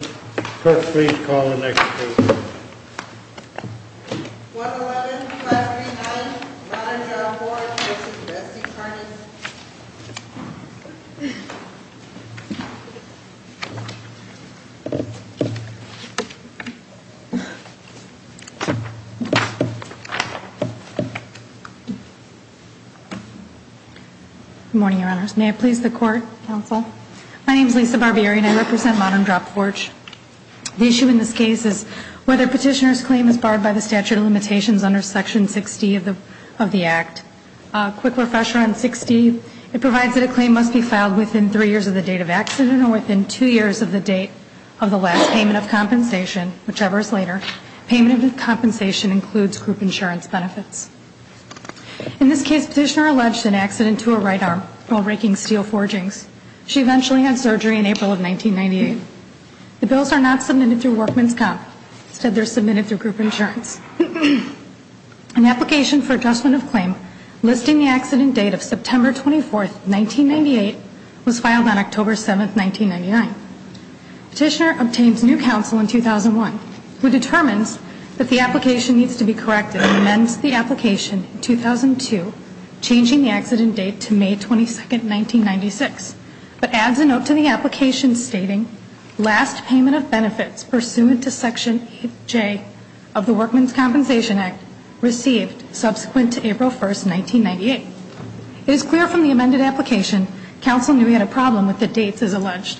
111 Class 3-9 Modern Drop Forge v. Bessie Tarnas Good morning, Your Honors. May I please the Court, Counsel? My name is Lisa Barbieri and I represent Modern Drop Forge. The issue in this case is whether a petitioner's claim is barred by the statute of limitations under Section 60 of the Act. A quick refresher on 60, it provides that a claim must be filed within three years of the date of accident or within two years of the date of the last payment of compensation, whichever is later. Payment of compensation includes group insurance benefits. In this case, petitioner alleged an accident to her right arm while raking steel forgings. She eventually had surgery in April of 1998. The bills are not submitted through Workmen's Comp. Instead, they're submitted through group insurance. An application for adjustment of claim listing the accident date of September 24th, 1998 was filed on October 7th, 1999. Petitioner obtains new counsel in 2001, who determines that the application needs to be corrected and amends the application in 2002, changing the accident date to May 22nd, 1996, but adds a note to the application stating last payment of benefits pursuant to Section 8J of the Workmen's Comp. Act received subsequent to April 1st, 1998. It is clear from the amended application counsel knew he had a problem with the dates as alleged.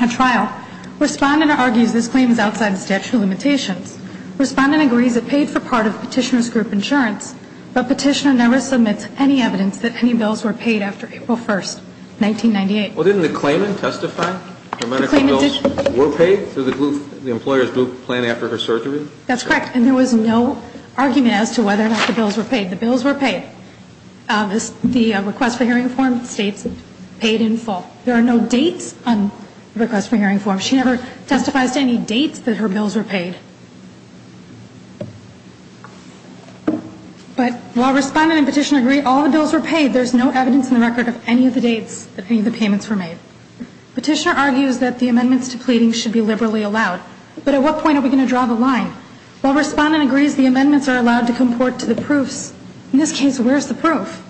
A trial. Respondent argues this claim is outside the statute of limitations. Respondent agrees it paid for part of petitioner's group insurance, but petitioner never submits any evidence that any bills were paid after April 1st, 1998. Well, didn't the claimant testify that medical bills were paid through the employer's group plan after her surgery? That's correct. And there was no argument as to whether or not the bills were paid. The bills were paid. The request for hearing form states paid in full. There are no dates on the request for hearing form. She never testifies to any dates that her bills were paid. But while Respondent and Petitioner agree all the bills were paid, there's no evidence in the record of any of the dates that any of the payments were made. Petitioner argues that the amendments to pleadings should be liberally allowed. But at what point are we going to draw the line? While Respondent agrees the amendments are allowed to comport to the proofs, in this case, where's the proof?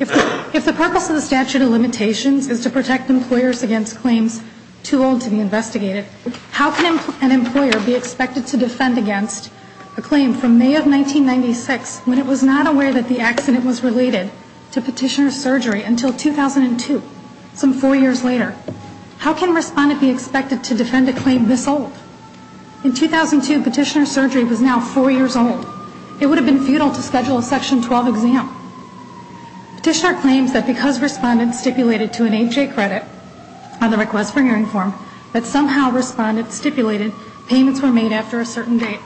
If the purpose of the statute of limitations is to protect employers against claims too old to be investigated, how can an employer be expected to defend against a claim from May of 1996 when it was not aware that the accident was related to petitioner's surgery until 2002, some four years later? How can Respondent be expected to defend a claim this old? In 2002, petitioner's surgery was now four years old. It would have been futile to schedule a Section 12 exam. Petitioner claims that because Respondent stipulated to an H.A. credit on the request for hearing form, that somehow Respondent stipulated payments were made after a certain date.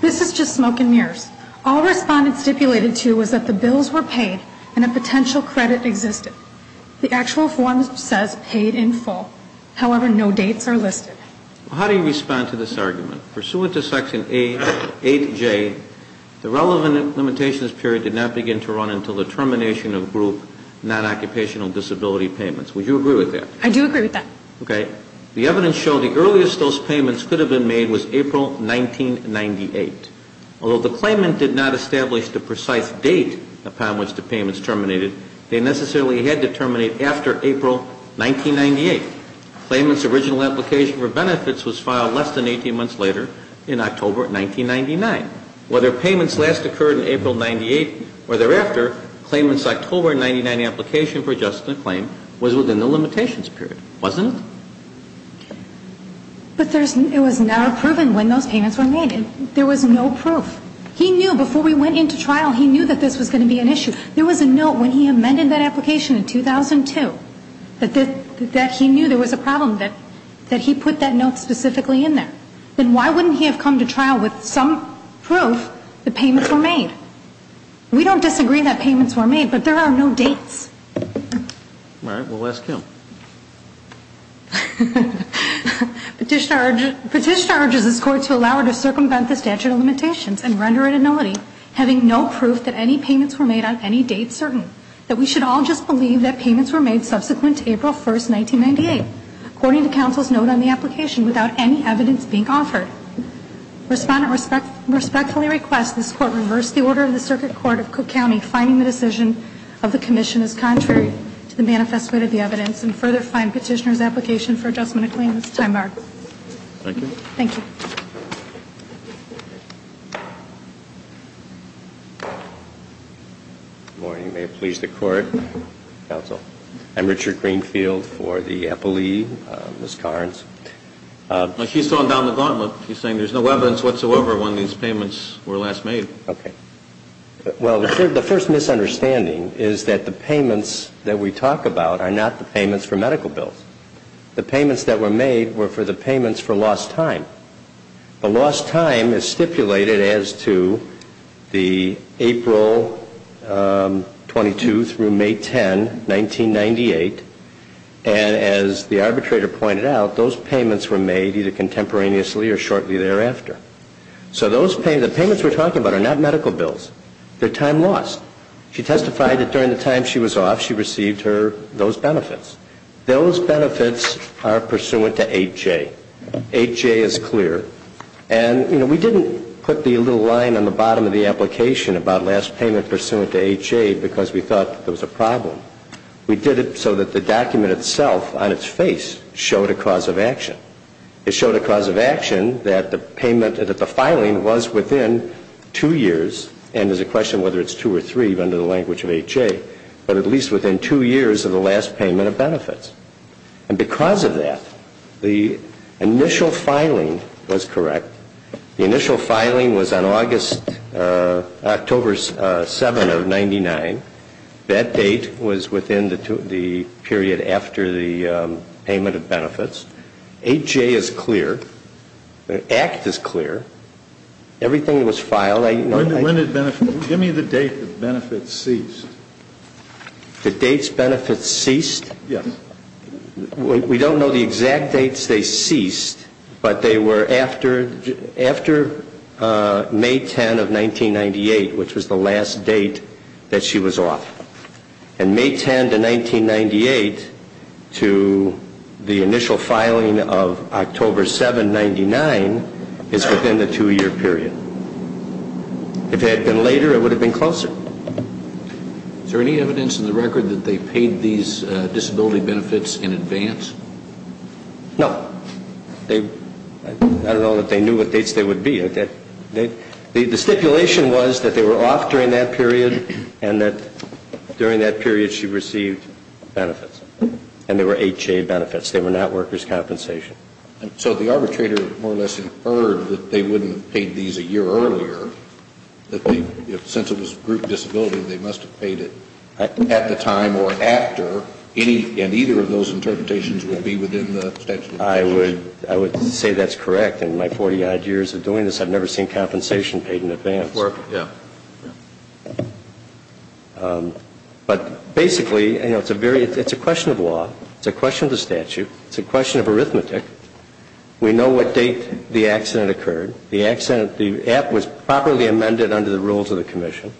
This is just smoke and mirrors. All Respondent stipulated to was that the bills were paid and a potential credit existed. The actual form says paid in full. However, no dates are listed. How do you respond to this argument? Pursuant to Section 8J, the relevant limitations period did not begin to run until the termination of group non-occupational disability payments. Would you agree with that? I do agree with that. The evidence showed the earliest those payments could have been made was April 1998. Although the claimant did not establish the precise date upon which the payments terminated, they necessarily had to terminate after April 1998. The claimant's original application for benefits was filed less than 18 months later in October 1999. Whether payments last occurred in April 1998 or thereafter, the claimant's October 1999 application for adjustment of claim was within the limitations period, wasn't it? But it was never proven when those payments were made. There was no proof. He knew before we went into trial, he knew that this was going to be an issue. There was a note when he amended that application in 2002 that he knew there was a problem, that he put that note specifically in there. Then why wouldn't he have come to trial with some proof that payments were made? We don't disagree that payments were made, but there are no dates. All right. We'll ask him. Petitioner urges this Court to allow her to circumvent the statute of limitations and render it annullity, having no proof that any payments were made on any date certain, that we should all just believe that payments were made subsequent to April 1st, 1998, according to counsel's note on the application, without any evidence being offered. Respondent respectfully requests this Court reverse the order of the Circuit Court of Cook County, finding the decision of the Commission as contrary to the manifest way of the evidence, and further find petitioner's application for adjustment of claim as time-barred. Thank you. Thank you. Good morning. May it please the Court, counsel. I'm Richard Greenfield for the appellee, Ms. Carnes. He's throwing down the gauntlet. He's saying there's no evidence whatsoever when these payments were last made. Okay. Well, the first misunderstanding is that the payments that we talk about are not the payments for medical bills. The payments that were made were for the payments for lost time. The lost time is stipulated as to the April 22 through May 10, 1998, and as the arbitrator pointed out, those payments were made either contemporaneously or shortly thereafter. So the payments we're talking about are not medical bills. They're time lost. She testified that during the time she was off, she received those benefits. Those benefits are pursuant to 8J. 8J is clear. And, you know, we didn't put the little line on the bottom of the application about last payment pursuant to 8J because we thought there was a problem. We did it so that the document itself on its face showed a cause of action. It showed a cause of action that the payment, that the filing was within two years, and there's a question whether it's two or three under the language of 8J, but at least within two years of the last payment of benefits. And because of that, the initial filing was correct. The initial filing was on August, October 7 of 99. That date was within the period after the payment of benefits. 8J is clear. The act is clear. Everything was filed. Give me the date the benefits ceased. The dates benefits ceased? Yes. We don't know the exact dates they ceased, but they were after May 10 of 1998, which was the last date that she was off. And May 10 to 1998 to the initial filing of October 7, 99 is within the two-year period. If it had been later, it would have been closer. Is there any evidence in the record that they paid these disability benefits in advance? No. I don't know that they knew what dates they would be. The stipulation was that they were off during that period and that during that period she received benefits, and they were 8J benefits. They were not workers' compensation. So the arbitrator more or less inferred that they wouldn't have paid these a year earlier, that since it was group disability, they must have paid it at the time or after, and either of those interpretations will be within the statute of limitations? I would say that's correct. In my 40-odd years of doing this, I've never seen compensation paid in advance. Yeah. But basically, you know, it's a question of law. It's a question of the statute. It's a question of arithmetic. We know what date the accident occurred. The accident, the app was properly amended under the rules of the commission.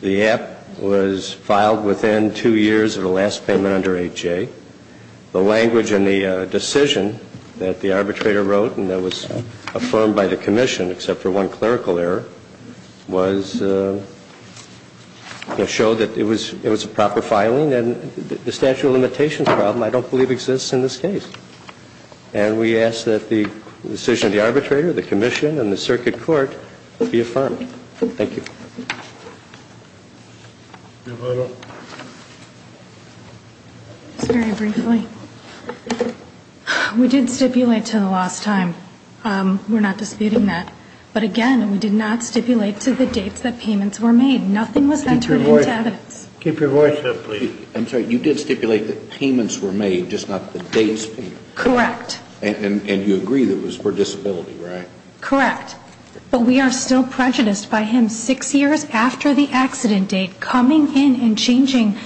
The app was filed within two years of the last payment under 8J. The language in the decision that the arbitrator wrote and that was affirmed by the commission, except for one clerical error, was to show that it was a proper filing, and the statute of limitations problem I don't believe exists in this case. And we ask that the decision of the arbitrator, the commission, and the circuit court be affirmed. Thank you. Ms. Little. Just very briefly. We did stipulate to the last time. We're not disputing that. But, again, we did not stipulate to the dates that payments were made. Nothing was entered into evidence. Keep your voice up, please. I'm sorry. You did stipulate that payments were made, just not the dates paid. Correct. And you agree that it was for disability, right? Correct. But we are still prejudiced by him six years after the accident date coming in and changing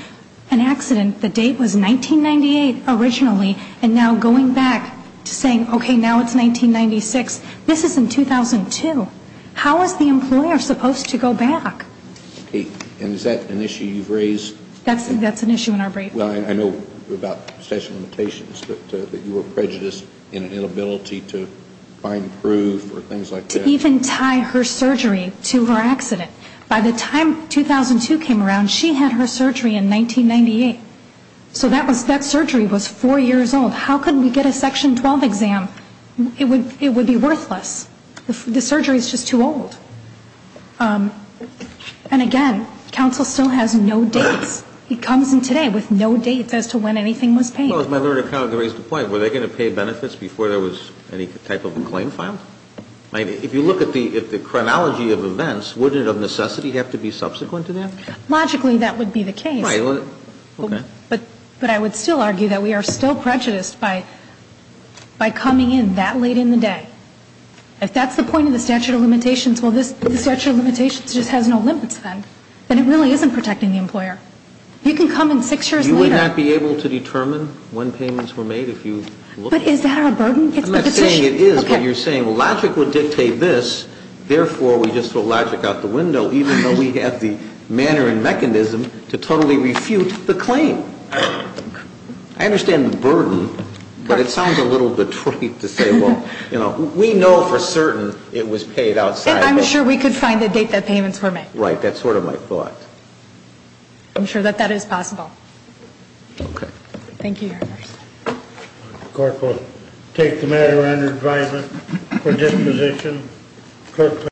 an accident. The date was 1998 originally, and now going back to saying, okay, now it's 1996. This is in 2002. How is the employer supposed to go back? And is that an issue you've raised? That's an issue in our brief. Well, I know about statute of limitations, but you were prejudiced in an inability to find proof or things like that. To even tie her surgery to her accident. By the time 2002 came around, she had her surgery in 1998. So that surgery was four years old. How could we get a Section 12 exam? It would be worthless. The surgery is just too old. And, again, counsel still has no dates. It comes in today with no dates as to when anything was paid. Well, as my other accountant raised the point, were they going to pay benefits before there was any type of a claim filed? I mean, if you look at the chronology of events, wouldn't it of necessity have to be subsequent to that? Logically, that would be the case. Right. Okay. But I would still argue that we are still prejudiced by coming in that late in the day. If that's the point of the statute of limitations, well, this statute of limitations just has no limits then. Then it really isn't protecting the employer. You can come in six years later. You would not be able to determine when payments were made if you look at it. But is that our burden? I'm not saying it is, but you're saying logic would dictate this, therefore we just throw logic out the window, even though we have the manner and mechanism to totally refute the claim. I understand the burden, but it sounds a little bit trite to say, well, you know, we know for certain it was paid outside. And I'm sure we could find the date that payments were made. Right. That's sort of my thought. I'm sure that that is possible. Okay. Thank you, Your Honor. The court will take the matter under advisement for disposition.